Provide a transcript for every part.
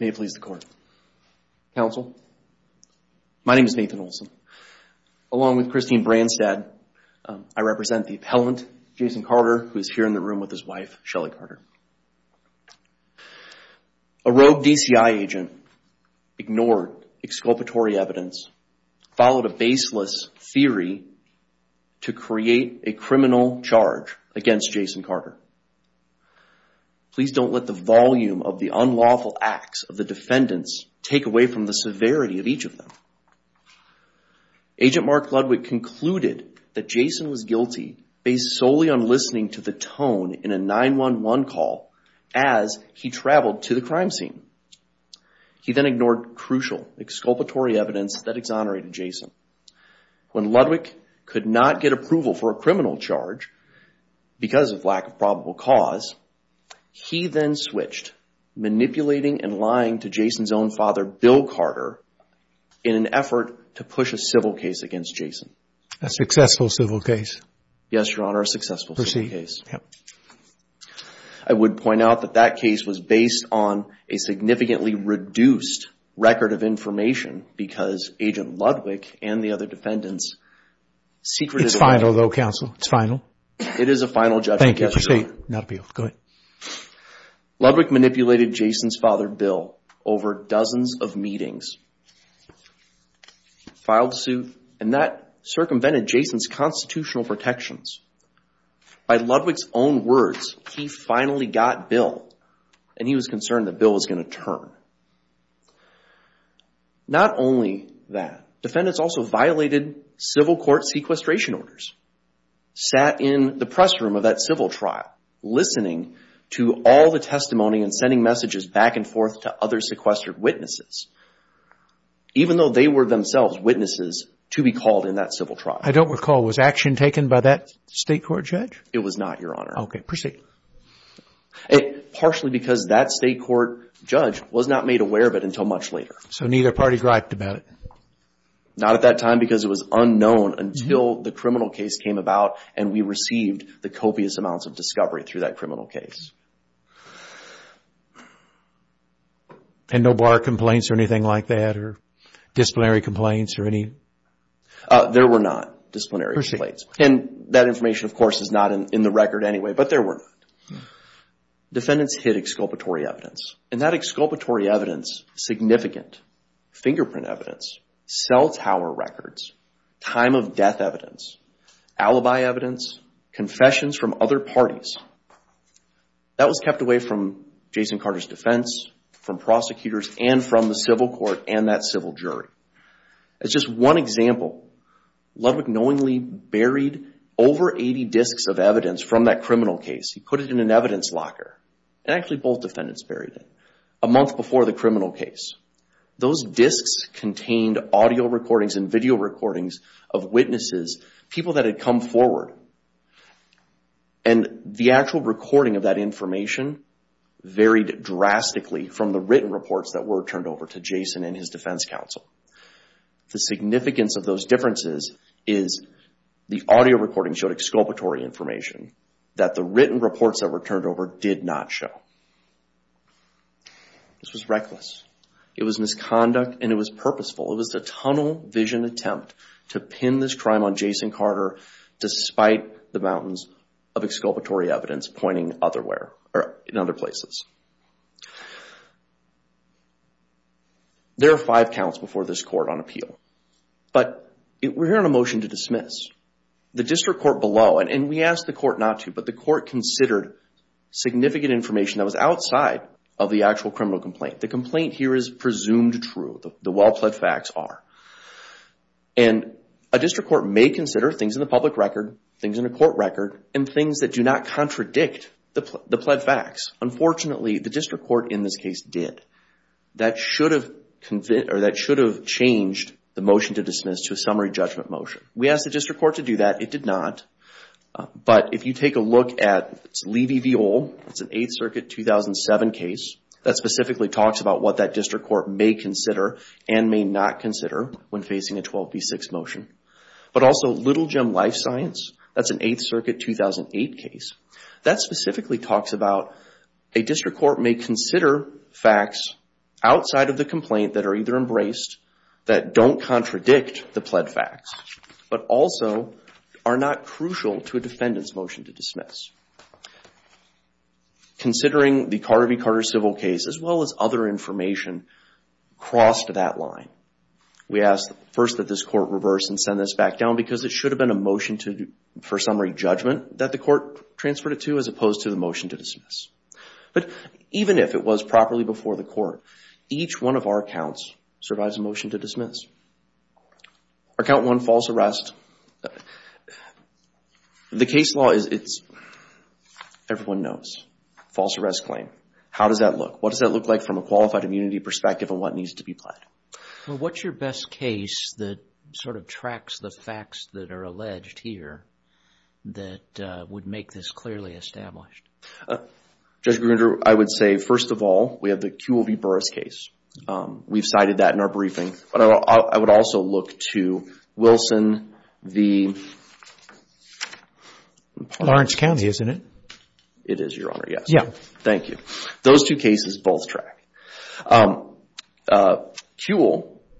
May it please the court. Counsel, my name is Nathan Olson. Along with Christine Branstad, I represent the appellant, Jason Carter, who is here in the room with his wife, Shelley Carter. A rogue DCI agent ignored exculpatory evidence, followed a baseless theory to create a criminal charge against Jason Carter. Please don't let the volume of the unlawful acts of the defendants take away from the severity of each of them. Agent Mark Ludwick concluded that Jason was guilty based solely on listening to the tone in a 911 call as he traveled to the crime scene. He then ignored crucial exculpatory evidence that exonerated Jason. When Ludwick could not get approval for a criminal charge because of lack of probable cause, he then switched, manipulating and lying to Jason's own father, Bill Carter, in an effort to push a civil case against Jason. A successful civil case? Yes, Your Honor, a successful civil case. Proceed. I would point out that that case was based on a significantly reduced record of information because Agent Ludwick and the other defendants secretively... It's final though, Counsel. It's final. It is a final judgment. Thank you. Proceed. Ludwick manipulated Jason's father, Bill, over dozens of meetings, filed suit, and that circumvented Jason's constitutional protections. By Ludwick's own words, he finally got Bill and he was concerned that Bill was going to turn. Not only that, defendants also violated civil court sequestration orders, sat in the press room of that civil trial, listening to all the testimony and sending messages back and forth to other sequestered witnesses, even though they were themselves witnesses to be called in that civil trial. I don't recall. Was action taken by that state court judge? It was not, Your Honor. Okay. Proceed. Partially because that state court judge was not made aware of it until much later. So neither party griped about it? Not at that time because it was unknown until the criminal case came about and we received the copious amounts of discovery through that criminal case. And no bar complaints or anything like that or disciplinary complaints or any... There were not disciplinary complaints. Proceed. And that information, of course, is not in the record anyway, but there were. Defendants hid exculpatory evidence. And that exculpatory alibi evidence, confessions from other parties, that was kept away from Jason Carter's defense, from prosecutors and from the civil court and that civil jury. As just one example, Ludwig knowingly buried over 80 discs of evidence from that criminal case. He put it in an evidence locker and actually both defendants buried it a month before the criminal case. Those were the records. And the actual recording of that information varied drastically from the written reports that were turned over to Jason and his defense counsel. The significance of those differences is the audio recording showed exculpatory information that the written reports that were turned over did not show. This was reckless. It was misconduct and it was purposeful. It was a tunnel vision attempt to pin this crime on Jason Carter despite the mountains of exculpatory evidence pointing otherwhere or in other places. There are five counts before this court on appeal. But we're hearing a motion to dismiss. The district court below, and we asked the court not to, but the court considered significant information that was outside of the actual criminal complaint. The complaint here is presumed true. The well-pledged facts are. And a district court may consider things in the public record, things in the court record, and things that do not contradict the pledged facts. Unfortunately, the district court in this case did. That should have changed the motion to dismiss to a summary judgment motion. We asked the district court to do that. It did not. But if you take a look at Levy v. Ohl, it's an 8th Circuit 2007 case that specifically talks about what that district court may consider and may not consider when facing a 12b6 motion. But also Little Jim Life Science, that's an 8th Circuit 2008 case, that specifically talks about a district court may consider facts outside of the complaint that are either embraced, that don't contradict the pledged facts, but also are not crucial to a defendant's motion to dismiss. Considering the Carter v. Carter civil case, as well as other information crossed that line, we asked first that this court reverse and send this back down because it should have been a motion for summary judgment that the court transferred it to as opposed to the motion to dismiss. But even if it was properly before the court, each one of our counts survives a motion to dismiss. Our count 1, false arrest. The case law is, everyone knows, false arrest claim. How does that look? What does that look like from a qualified immunity perspective and what needs to be pledged? Well, what's your best case that sort of tracks the facts that are alleged here that would make this clearly established? Judge Grunder, I would say, first of all, we have the QLV Burris case. We've cited that in our briefing. But I would also look to Wilson v. Lawrence County, isn't it? It is, Your Honor, yes. Thank you. Those two cases both track. QL,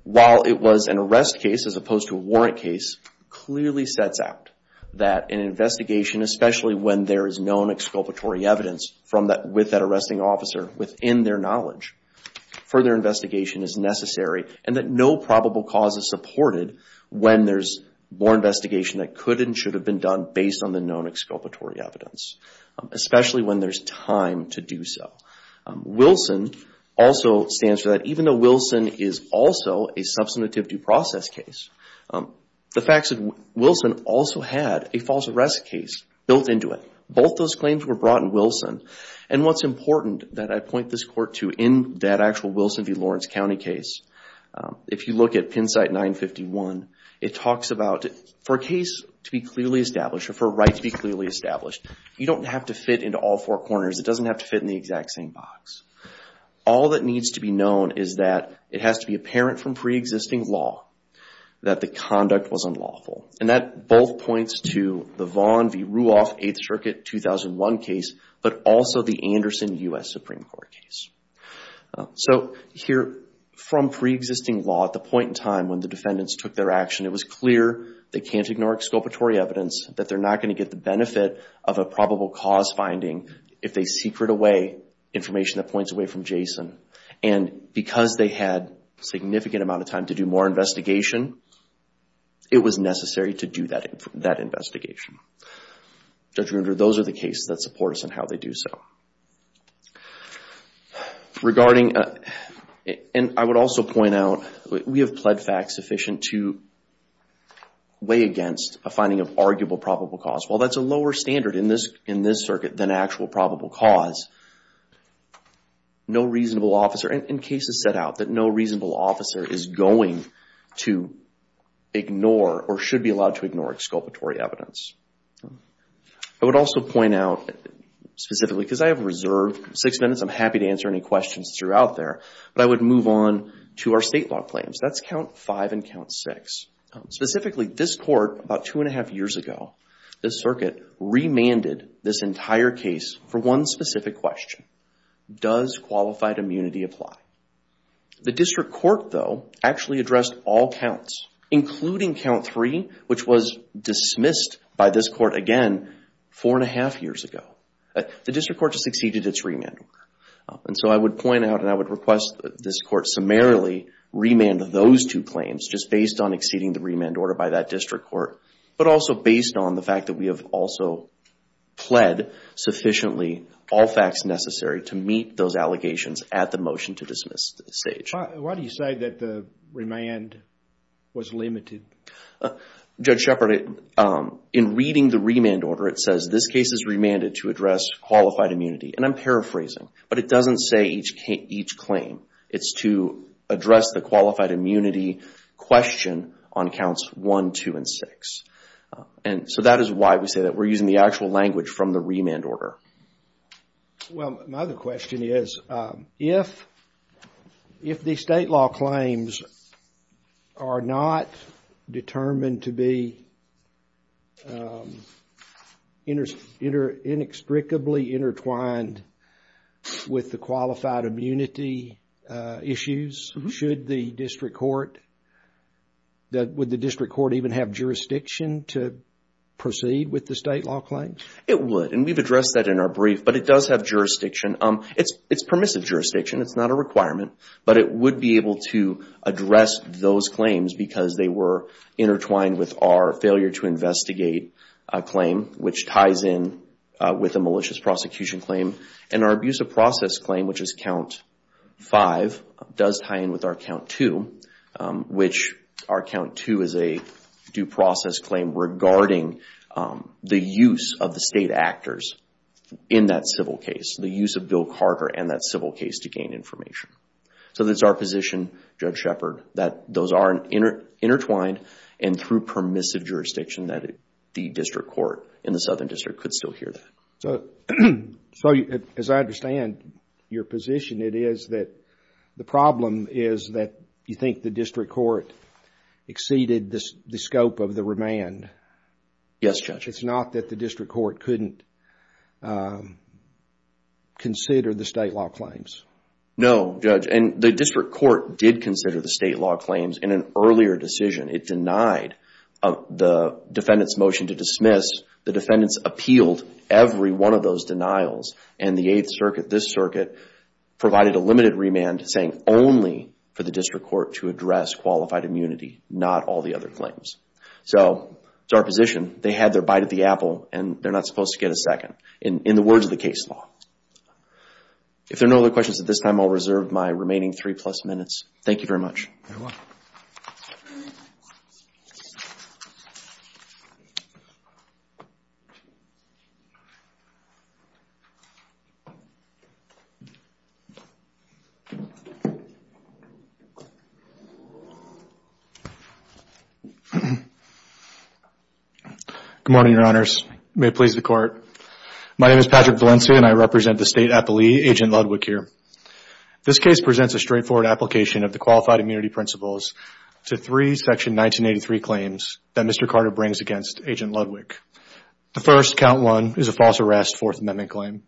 while it was an arrest case as opposed to a warrant case, clearly sets out that an investigation, especially when there is known exculpatory evidence with that arresting officer within their knowledge, further investigation is necessary and that no probable cause is supported when there's more investigation that could and should have been done based on the known exculpatory evidence, especially when there's time to do so. Wilson also stands for that. Even though Wilson is also a substantive due process case, the facts of Wilson also had a false arrest case built into it. Both those claims were brought in Wilson. And what's important that I point this court to in that actual Wilson v. Lawrence County case, if you look at Penn site 951, it talks about for a case to be clearly established or for a right to be clearly established, you don't have to fit into all four corners. It doesn't have to fit in the exact same box. All that needs to be known is that it has to be apparent from pre-existing law that the conduct was unlawful. And that both points to the Vaughn v. Ruoff 8th Circuit 2001 case, but also the Anderson U.S. Supreme Court case. So here from pre-existing law at the point in time when the defendants took their action, it was clear they can't ignore exculpatory evidence, that they're not going to get the benefit of a probable cause finding if they secret away information that points away from Jason. And because they had significant amount of time to do more investigation, it was necessary to do that investigation. Judge Ruder, those are the cases that support us in how they do so. Regarding, and I would also point out, we have pled facts sufficient to weigh against a finding of arguable probable cause. While that's a lower standard in this circuit than actual probable cause, no reasonable officer, and cases set out that no reasonable officer is going to ignore or should be allowed to ignore exculpatory evidence. I would also point out specifically, because I have reserved six minutes, I'm happy to answer any questions throughout there, but I would move on to our state law claims. That's count five and count six. Specifically, this court about two and a half years ago, this circuit remanded this entire case for one specific question. Does qualified immunity apply? The district court though actually addressed all counts, including count three, which was dismissed by this court again four and a half years ago. The district court just exceeded its remand order. And so I would point out and I would request that this court summarily remand those two claims just based on exceeding the remand order by that district court, but also based on the fact that we have also pled sufficiently all facts necessary to meet those allegations at the motion to dismiss stage. Why do you say that the remand was limited? Judge Shepard, in reading the remand order, it says this case is remanded to address qualified immunity. And I'm paraphrasing, but it doesn't say each claim. It's to address the qualified immunity question on counts one, two, and six. And so that is why we say that we're using the actual language from the remand order. Well, my other question is, if the state law claims are not determined to be inextricably intertwined with the qualified immunity issues, should the district court, would the district court even have jurisdiction to proceed with the state law claims? It would. And we've addressed that in our brief, but it does have jurisdiction. It's permissive jurisdiction. It's not a requirement, but it would be able to address those claims because they were intertwined with our failure to investigate a claim, which ties in with a malicious prosecution claim. And our abuse of process claim, which is count five, does tie in with our count two, which our count two is a due process claim regarding the use of the state actors in that civil case, the use of Bill Carter and that civil case to gain information. So that's our position, Judge Shepard, that those are intertwined and through permissive jurisdiction that the district court in the Southern District could still hear that. So, as I understand your position, it is that the problem is that you think the district court exceeded the scope of the remand. Yes, Judge. It's not that the district court couldn't consider the state law claims. No, Judge. And the district court did consider the state law claims in an earlier decision. It denied the defendant's motion to dismiss. The defendants appealed every one of those denials and the Eighth Circuit, this circuit, provided a limited remand saying only for the district court to address qualified immunity, not all the other claims. So, it's our position. They had their bite of the apple and they're not supposed to get a second in the words of the case law. If there are no other questions at this time, I'll reserve my remaining three plus minutes. Thank you very much. You're welcome. Good morning, your honors. May it please the court. My name is Patrick Valencia and I represent the state appellee, Agent Ludwig, here. This case presents a straightforward application of the qualified immunity principles to three Section 1983 claims that Mr. Carter brings against Agent Ludwig. The first, Count 1, is a false arrest Fourth Amendment claim.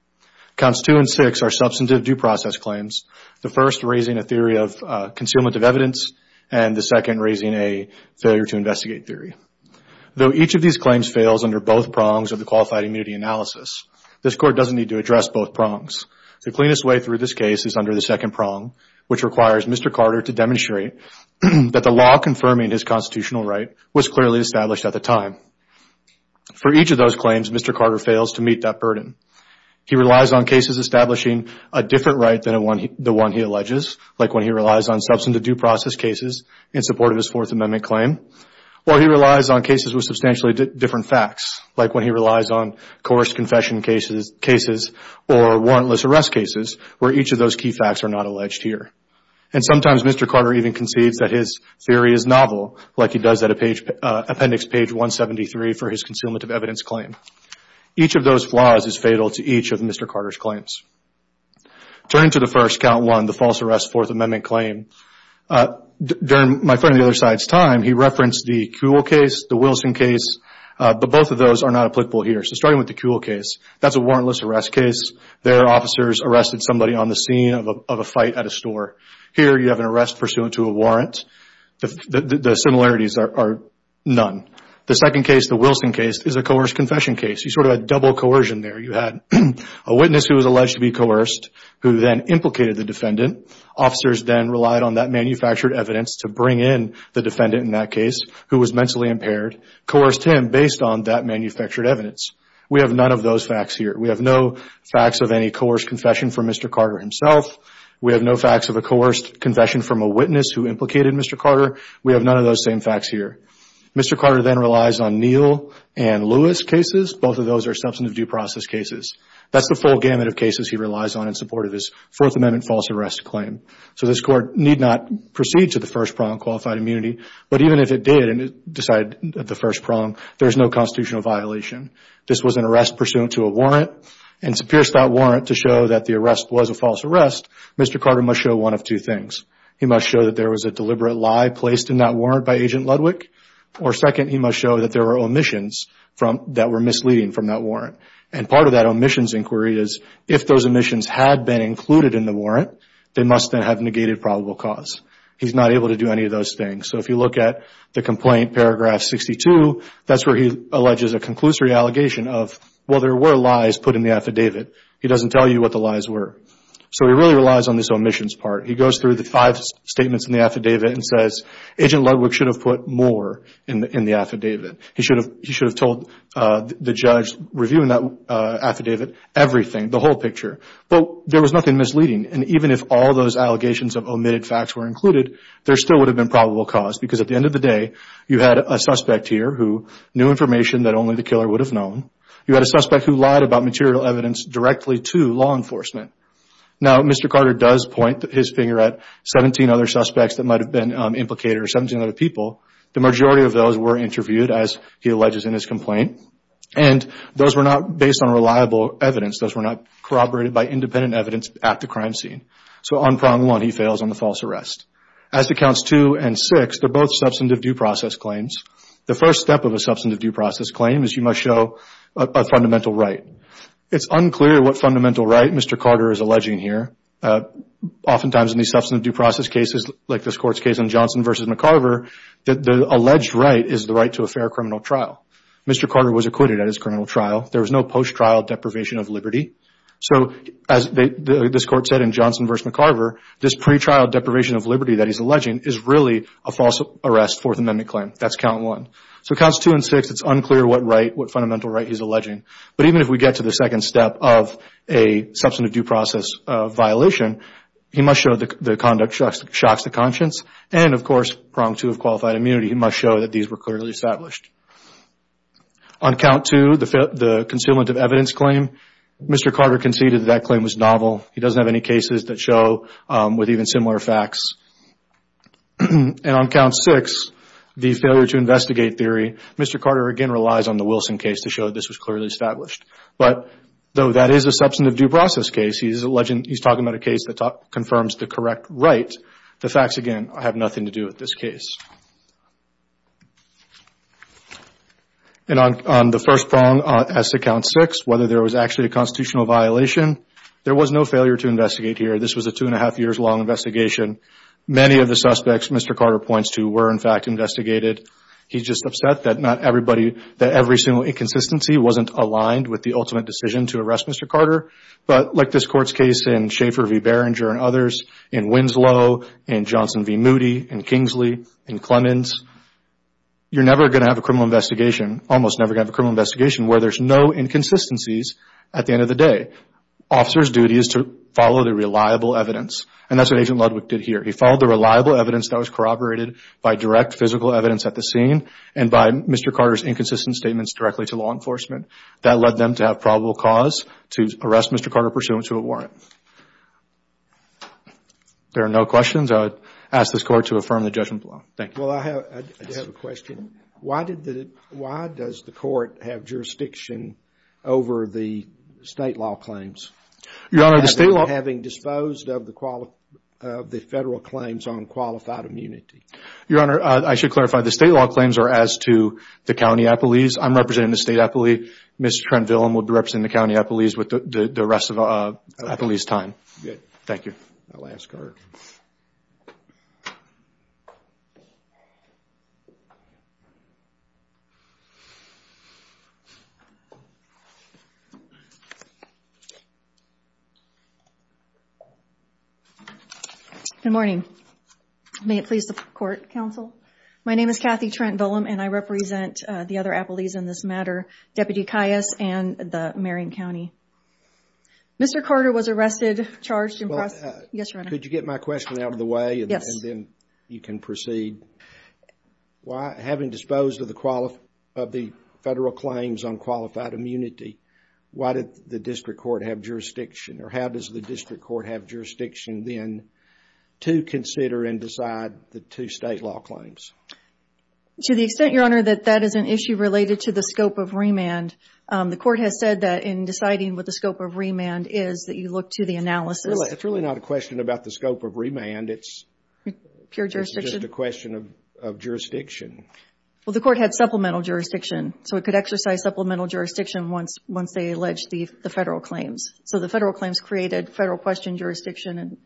Counts 2 and 6 are substantive due process claims, the first raising a theory of concealment of evidence and the second raising a failure to investigate theory. Though each of these claims fails under both prongs of the qualified immunity analysis, this court doesn't need to address both prongs. The cleanest way through this case is under the second prong, which requires Mr. Carter to demonstrate that the law confirming his constitutional right was clearly established at the time. For each of those claims, Mr. Carter fails to meet that burden. He relies on cases establishing a different right than the one he alleges, like when he relies on substantive due process cases in support of his Fourth Amendment claim, or he relies on cases with substantially different facts, like when he relies on coerced confession cases or warrantless arrest cases, where each of those key facts are not alleged here. Sometimes Mr. Carter even conceives that his theory is novel, like he does at Appendix Page 173 for his concealment of evidence claim. Each of those flaws is fatal to each of Mr. Carter's claims. Turning to the first, Count 1, the false arrest Fourth Amendment claim, during my friend on the other side's time, he referenced the Kuhl case, the Wilson case, but both of those are not applicable here. Starting with the Kuhl case, that's a warrantless arrest case. Their officers arrested somebody on the scene of a fight at a store. Here, you have an arrest pursuant to a warrant. The similarities are none. The second case, the Wilson case, is a coerced confession case. You sort of had double coercion there. You had a witness who was alleged to be coerced, who then implicated the defendant. Officers then relied on that manufactured evidence to bring in the defendant in that case, who was mentally impaired, coerced him based on that manufactured evidence. We have none of those facts here. We have no facts of any coerced confession from Mr. Carter himself. We have no facts of a coerced confession from a witness who implicated Mr. Carter. We have none of those same facts here. Mr. Carter then relies on Neal and Lewis cases. Both of those are substantive due process cases. That's the full gamut of cases he relies on in support of his Fourth Amendment false arrest claim. This Court need not proceed to the first prong, qualified immunity, but even if it did and it decided the first prong, there's no constitutional violation. This was an arrest pursuant to a warrant. To pierce that warrant to show that the arrest was a false arrest, Mr. Carter must show one of two things. He must show that there was a deliberate lie placed in that warrant by Agent Ludwick, or second, he must show that there were omissions that were misleading from that warrant. Part of that omissions inquiry is if those omissions had been included in the warrant, they must then have negated probable cause. He's not able to do any of those things. If you look at the complaint, paragraph 62, that's where he alleges a conclusory allegation of, well, there were lies put in the affidavit. He doesn't tell you what the lies were. He really relies on this omissions part. He goes through the five statements in the affidavit and says, Agent Ludwick should have put more in the affidavit. He should have told the judge reviewing that affidavit everything, the whole picture. There was nothing misleading. Even if all those allegations of omitted facts were included, there still would have been probable cause because at the end of the day, you had a suspect here who knew information that only the killer would have known. You had a suspect who lied about material evidence directly to law enforcement. Now, Mr. Carter does point his finger at 17 other suspects that might have been implicators, 17 other people. The majority of those were interviewed, as he alleges in his complaint. Those were not based on reliable evidence. Those were not corroborated by independent evidence at the crime scene. On prong one, he fails on the false arrest. As to counts two and six, they're both substantive due process claims. The first step of a substantive due process claim is you must show a fundamental right. It's unclear what fundamental right Mr. Carter is alleging here. Oftentimes, in these substantive due process cases, like this Court's case in Johnson v. McIver, the alleged right is the right to a fair criminal trial. Mr. Carter was acquitted at his criminal trial. There was no post-trial deprivation of liberty. As this Court said in Johnson v. McIver, this pre-trial deprivation of liberty that he's alleging is really a false arrest Fourth Amendment claim. That's count one. Counts two and six, it's unclear what fundamental right he's alleging. Even if we get to the second step of a substantive due process violation, he must show the conduct shocks the conscience. Of course, prong two of qualified immunity, he must show that these were clearly established. On count two, the concealment of evidence claim, Mr. Carter conceded that that claim was novel. He doesn't have any cases that show with even similar facts. On count six, the failure to investigate theory, Mr. Carter again relies on the Wilson case to show this was clearly established. Though that is a substantive due process case, he's talking about a case that confirms the correct right, the facts again have nothing to do with this case. On the first prong, as to count six, whether there was actually a constitutional violation, there was no failure to investigate here. This was a two and a half years long investigation. Many of the suspects Mr. Carter points to were in fact investigated. He's just upset that not everybody, that every single inconsistency wasn't aligned with the ultimate decision to arrest Mr. Carter. Like this court's case in Schaefer v. Berenger and others, in Winslow, in Johnson v. Moody, in Kingsley, in Clemens, you're never going to have a criminal investigation, almost never going to have a criminal investigation where there's no inconsistencies at the end of the day. Officer's duty is to follow the reliable evidence. That's what Agent Ludwig did here. He followed the reliable evidence that was corroborated by direct physical evidence at the scene and by Mr. Carter's inconsistent statements directly to law enforcement. That led them to have probable cause to arrest Mr. Carter pursuant to a warrant. There are no questions. I would ask this court to affirm the judgment below. Thank you. Well, I have a question. Why did the, why does the court have jurisdiction over the state law claims? Your Honor, the state law. Having disposed of the federal claims on qualified immunity. Your Honor, I should clarify. The state law claims are as to the county appellees. I'm representing the state appellee. Ms. Trenvillen will be representing the county appellees with the rest of the appellee's time. Thank you. My last card. Good morning. May it please the court, counsel. My name is Kathy Trenvillen and I represent the other appellees in this matter, Deputy Kias and the Marion County. Mr. Carter was arrested, charged and prosecuted. Yes, Your Honor. Could you get my question out of the way and then you can proceed? Yes. Why, having disposed of the federal claims on qualified immunity, why did the district court have jurisdiction or how does the district court have jurisdiction then to consider and decide the two state law claims? To the extent, Your Honor, that that is an issue related to the scope of remand. The analysis. It's really not a question about the scope of remand. It's just a question of jurisdiction. The court had supplemental jurisdiction, so it could exercise supplemental jurisdiction once they allege the federal claims. The federal claims created federal question jurisdiction and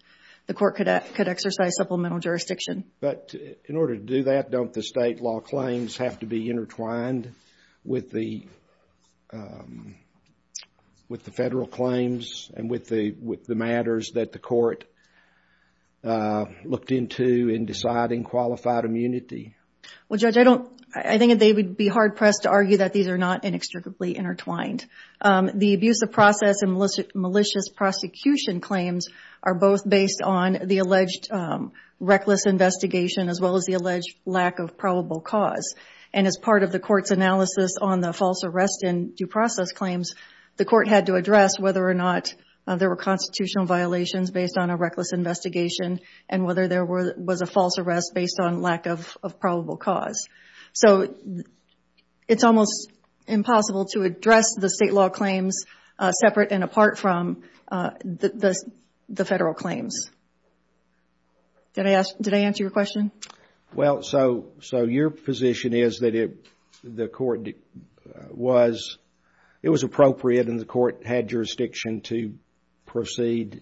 the court could exercise supplemental jurisdiction. In order to do that, don't the state law claims have to be intertwined with the federal claims and with the matters that the court looked into in deciding qualified immunity? Well, Judge, I think they would be hard-pressed to argue that these are not inextricably intertwined. The abuse of process and malicious prosecution claims are both based on the alleged reckless investigation as well as the alleged lack of probable cause. As part of the court's there were constitutional violations based on a reckless investigation and whether there was a false arrest based on lack of probable cause. It's almost impossible to address the state law claims separate and apart from the federal claims. Did I answer your question? Well, so your position is that it was appropriate and the court had jurisdiction to proceed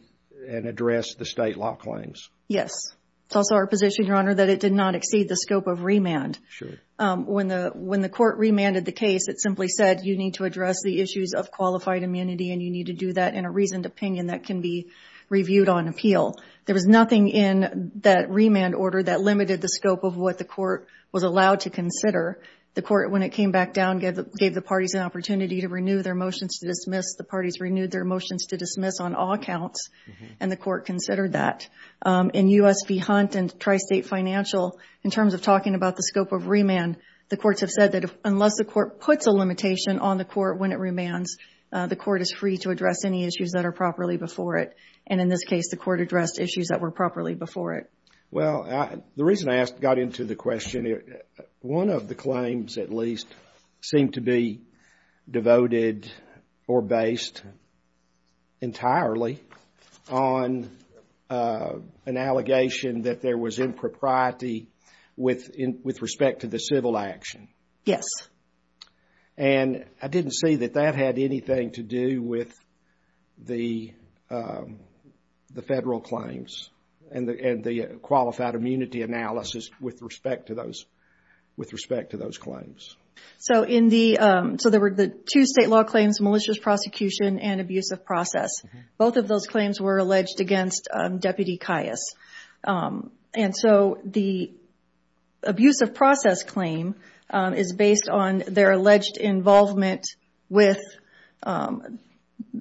and address the state law claims? Yes. It's also our position, Your Honor, that it did not exceed the scope of remand. When the court remanded the case, it simply said you need to address the issues of qualified immunity and you need to do that in a reasoned opinion that can be reviewed on appeal. There was nothing in that remand order that limited the scope of what the court was allowed to consider. The court, when it came back down, gave the parties an opportunity to renew their motions to dismiss. The parties renewed their motions to dismiss on all accounts and the court considered that. In U.S. v. Hunt and Tri-State Financial, in terms of talking about the scope of remand, the courts have said that unless the court puts a limitation on the court when it remands, the court is free to address any issues that are properly before it. And in this case, the court addressed issues that were properly before it. Well, the reason I got into the question, one of the claims at least seemed to be devoted or based entirely on an allegation that there was impropriety with respect to the civil action. Yes. And I didn't see that that had anything to do with the federal claims and the qualified immunity analysis with respect to those claims. So there were the two state law claims, malicious prosecution and abusive process. Both of those on their alleged involvement with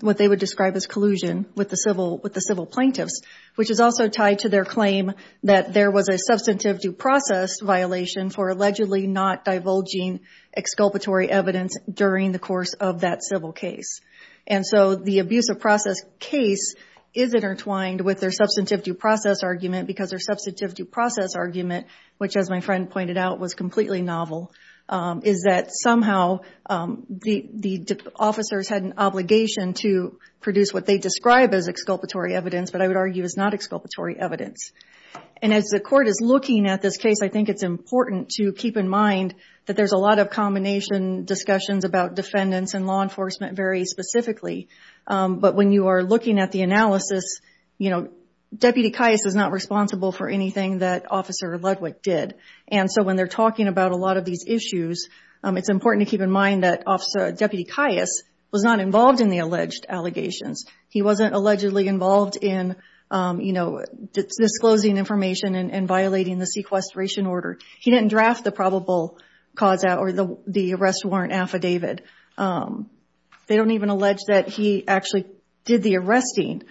what they would describe as collusion with the civil plaintiffs, which is also tied to their claim that there was a substantive due process violation for allegedly not divulging exculpatory evidence during the course of that civil case. And so the abusive process case is intertwined with their substantive due process argument because their substantive due process argument, which as my friend pointed out, was completely novel, is that somehow the officers had an obligation to produce what they described as exculpatory evidence, but I would argue is not exculpatory evidence. And as the court is looking at this case, I think it's important to keep in mind that there's a lot of combination discussions about defendants and law enforcement very specifically. But when you are looking at the analysis, you know, Deputy Caius is not responsible for anything that Officer Ludwig did. And so when they're talking about a lot of these issues, it's important to keep in mind that Deputy Caius was not involved in the alleged allegations. He wasn't allegedly involved in, you know, disclosing information and violating the sequestration order. He didn't draft the probable cause or the arrest warrant affidavit. They don't even allege that he actually did the arresting.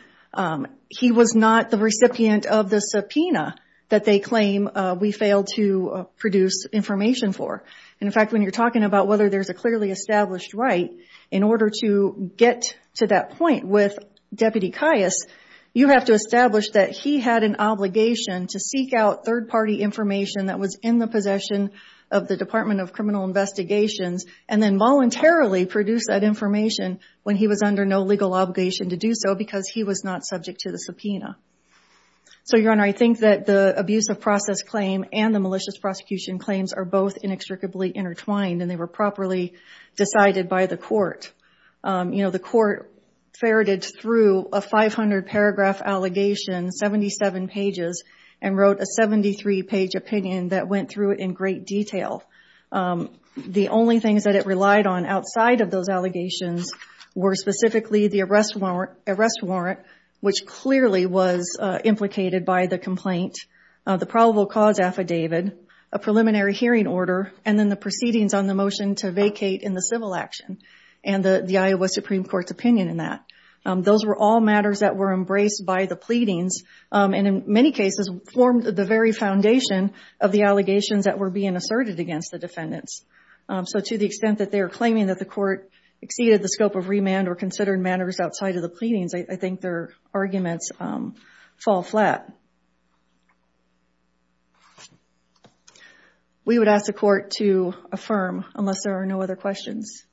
He was not the recipient of the subpoena that they claim we failed to produce information for. And in fact, when you're talking about whether there's a clearly established right, in order to get to that point with Deputy Caius, you have to establish that he had an obligation to seek out third-party information that was in the possession of the Department of Criminal Investigations and then voluntarily produce that information when he was under no legal obligation to do so because he was not subject to the subpoena. So, Your Honor, I think that the abuse of process claim and the malicious prosecution claims are both inextricably intertwined and they were properly decided by the court. You know, the court ferreted through a 500-paragraph allegation, 77 pages, and wrote a 73-page opinion that went through it in great detail. The only things that it relied on outside of those allegations were specifically the arrest warrant, which clearly was implicated by the complaint, the probable cause affidavit, a preliminary hearing order, and then the proceedings on the motion to vacate in the civil action and the Iowa Supreme Court's opinion in that. Those were all matters that were embraced by the pleadings and in many cases formed the very foundation of the allegations that were being asserted against the defendants. So, to the extent that they are claiming that the court exceeded the scope of remand or considered matters outside of the pleadings, I think their arguments fall flat. We would ask the court to affirm unless there are no other questions.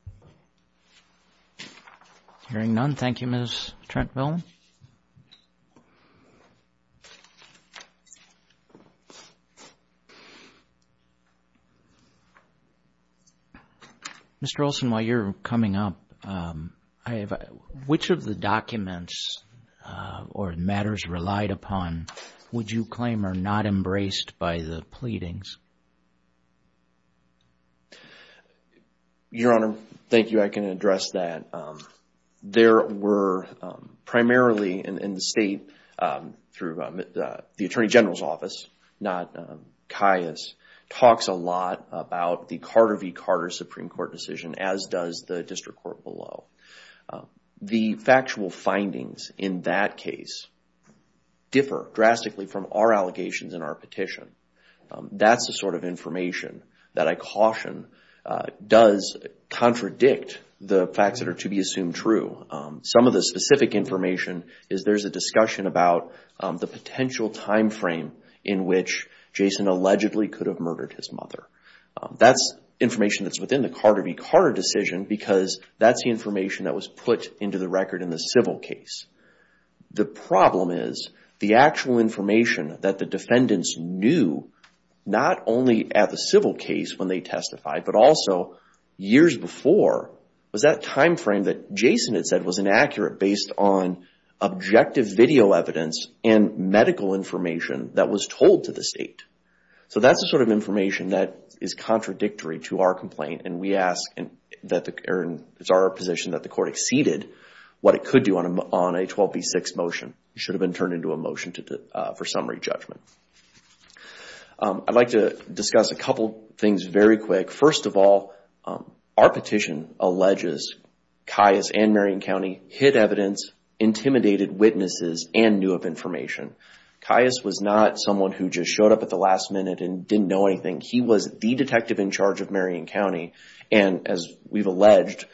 Hearing none, thank you, Ms. Trentville. Mr. Olson, while you're coming up, which of the documents or matters relied upon would you claim are not embraced by the pleadings? Your Honor, thank you. I can address that. There were primarily in the state through the Attorney General's office, not Caius, talks a lot about the Carter v. Carter Supreme Court decision, as does the district court below. The factual findings in that case differ drastically from our allegations in our petition. That's the sort of information that I caution does contradict the facts that are to be assumed true. Some of the specific information is there's a discussion about the potential time frame in which Jason allegedly could have murdered his mother. That's information that's within the Carter v. Carter decision because that's the information that was put into the record in the civil case. The problem is the actual information that the defendants knew, not only at the civil case when they testified, but also years before, was that time frame that Jason had said was inaccurate based on objective video evidence and medical information that was told to the state. That's the sort of information that is contradictory to our complaint. It's our position that the court exceeded what it could do on a 12B6 motion. It should have been turned into a motion for summary judgment. I'd like to discuss a couple things very quick. First of all, our petition alleges Caius and Marion County hid evidence intimidated witnesses and knew of information. Caius was not someone who just showed up at the last minute and didn't know anything. He was the detective in charge of Marion County and, as we've alleged,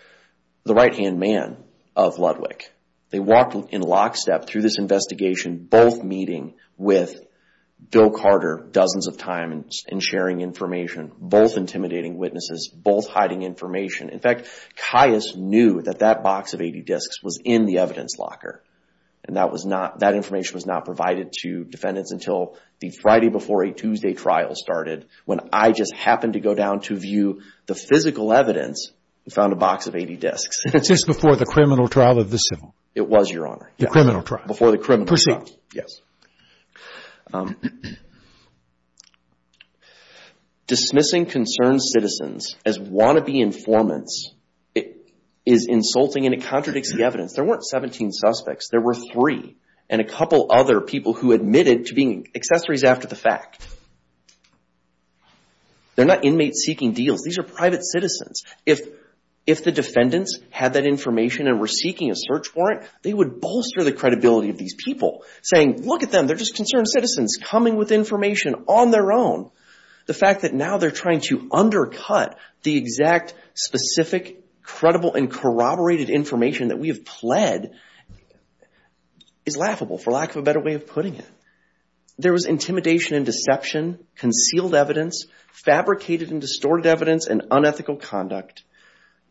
the right-hand man of Ludwick. They walked in lockstep through this investigation, both meeting with Bill Carter dozens of times and sharing information, both intimidating witnesses, both hiding information. In fact, Caius knew that that box of 80 discs was in the evidence locker. That information was not provided to defendants until the Friday before a Tuesday trial started, when I just happened to go down to view the physical evidence and found a box of 80 discs. It's just before the criminal trial or the civil? It was, Your Honor. The criminal trial. Before the criminal trial. Proceed. Dismissing concerned citizens as wannabe informants is insulting and it contradicts the evidence. There weren't 17 suspects. There were three and a couple other people who admitted to being accessories after the fact. They're not inmates seeking deals. These are private citizens. If the defendants had that information and were seeking a search warrant, they would bolster the credibility of these people, saying, look at them. They're just concerned citizens coming with information on their own. The fact that now they're trying to undercut the exact specific, credible, and corroborated information that we have pled is laughable, for lack of a better way of putting it. There was intimidation and deception, concealed evidence, fabricated and distorted evidence, and unethical conduct.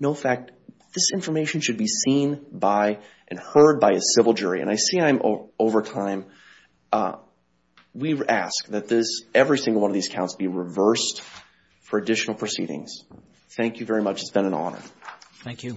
No fact. This information should be seen by and heard by a civil jury. I see I'm over time. We ask that every single one of these counts be reversed for additional proceedings. Thank you very much. It's been an honor. Thank you.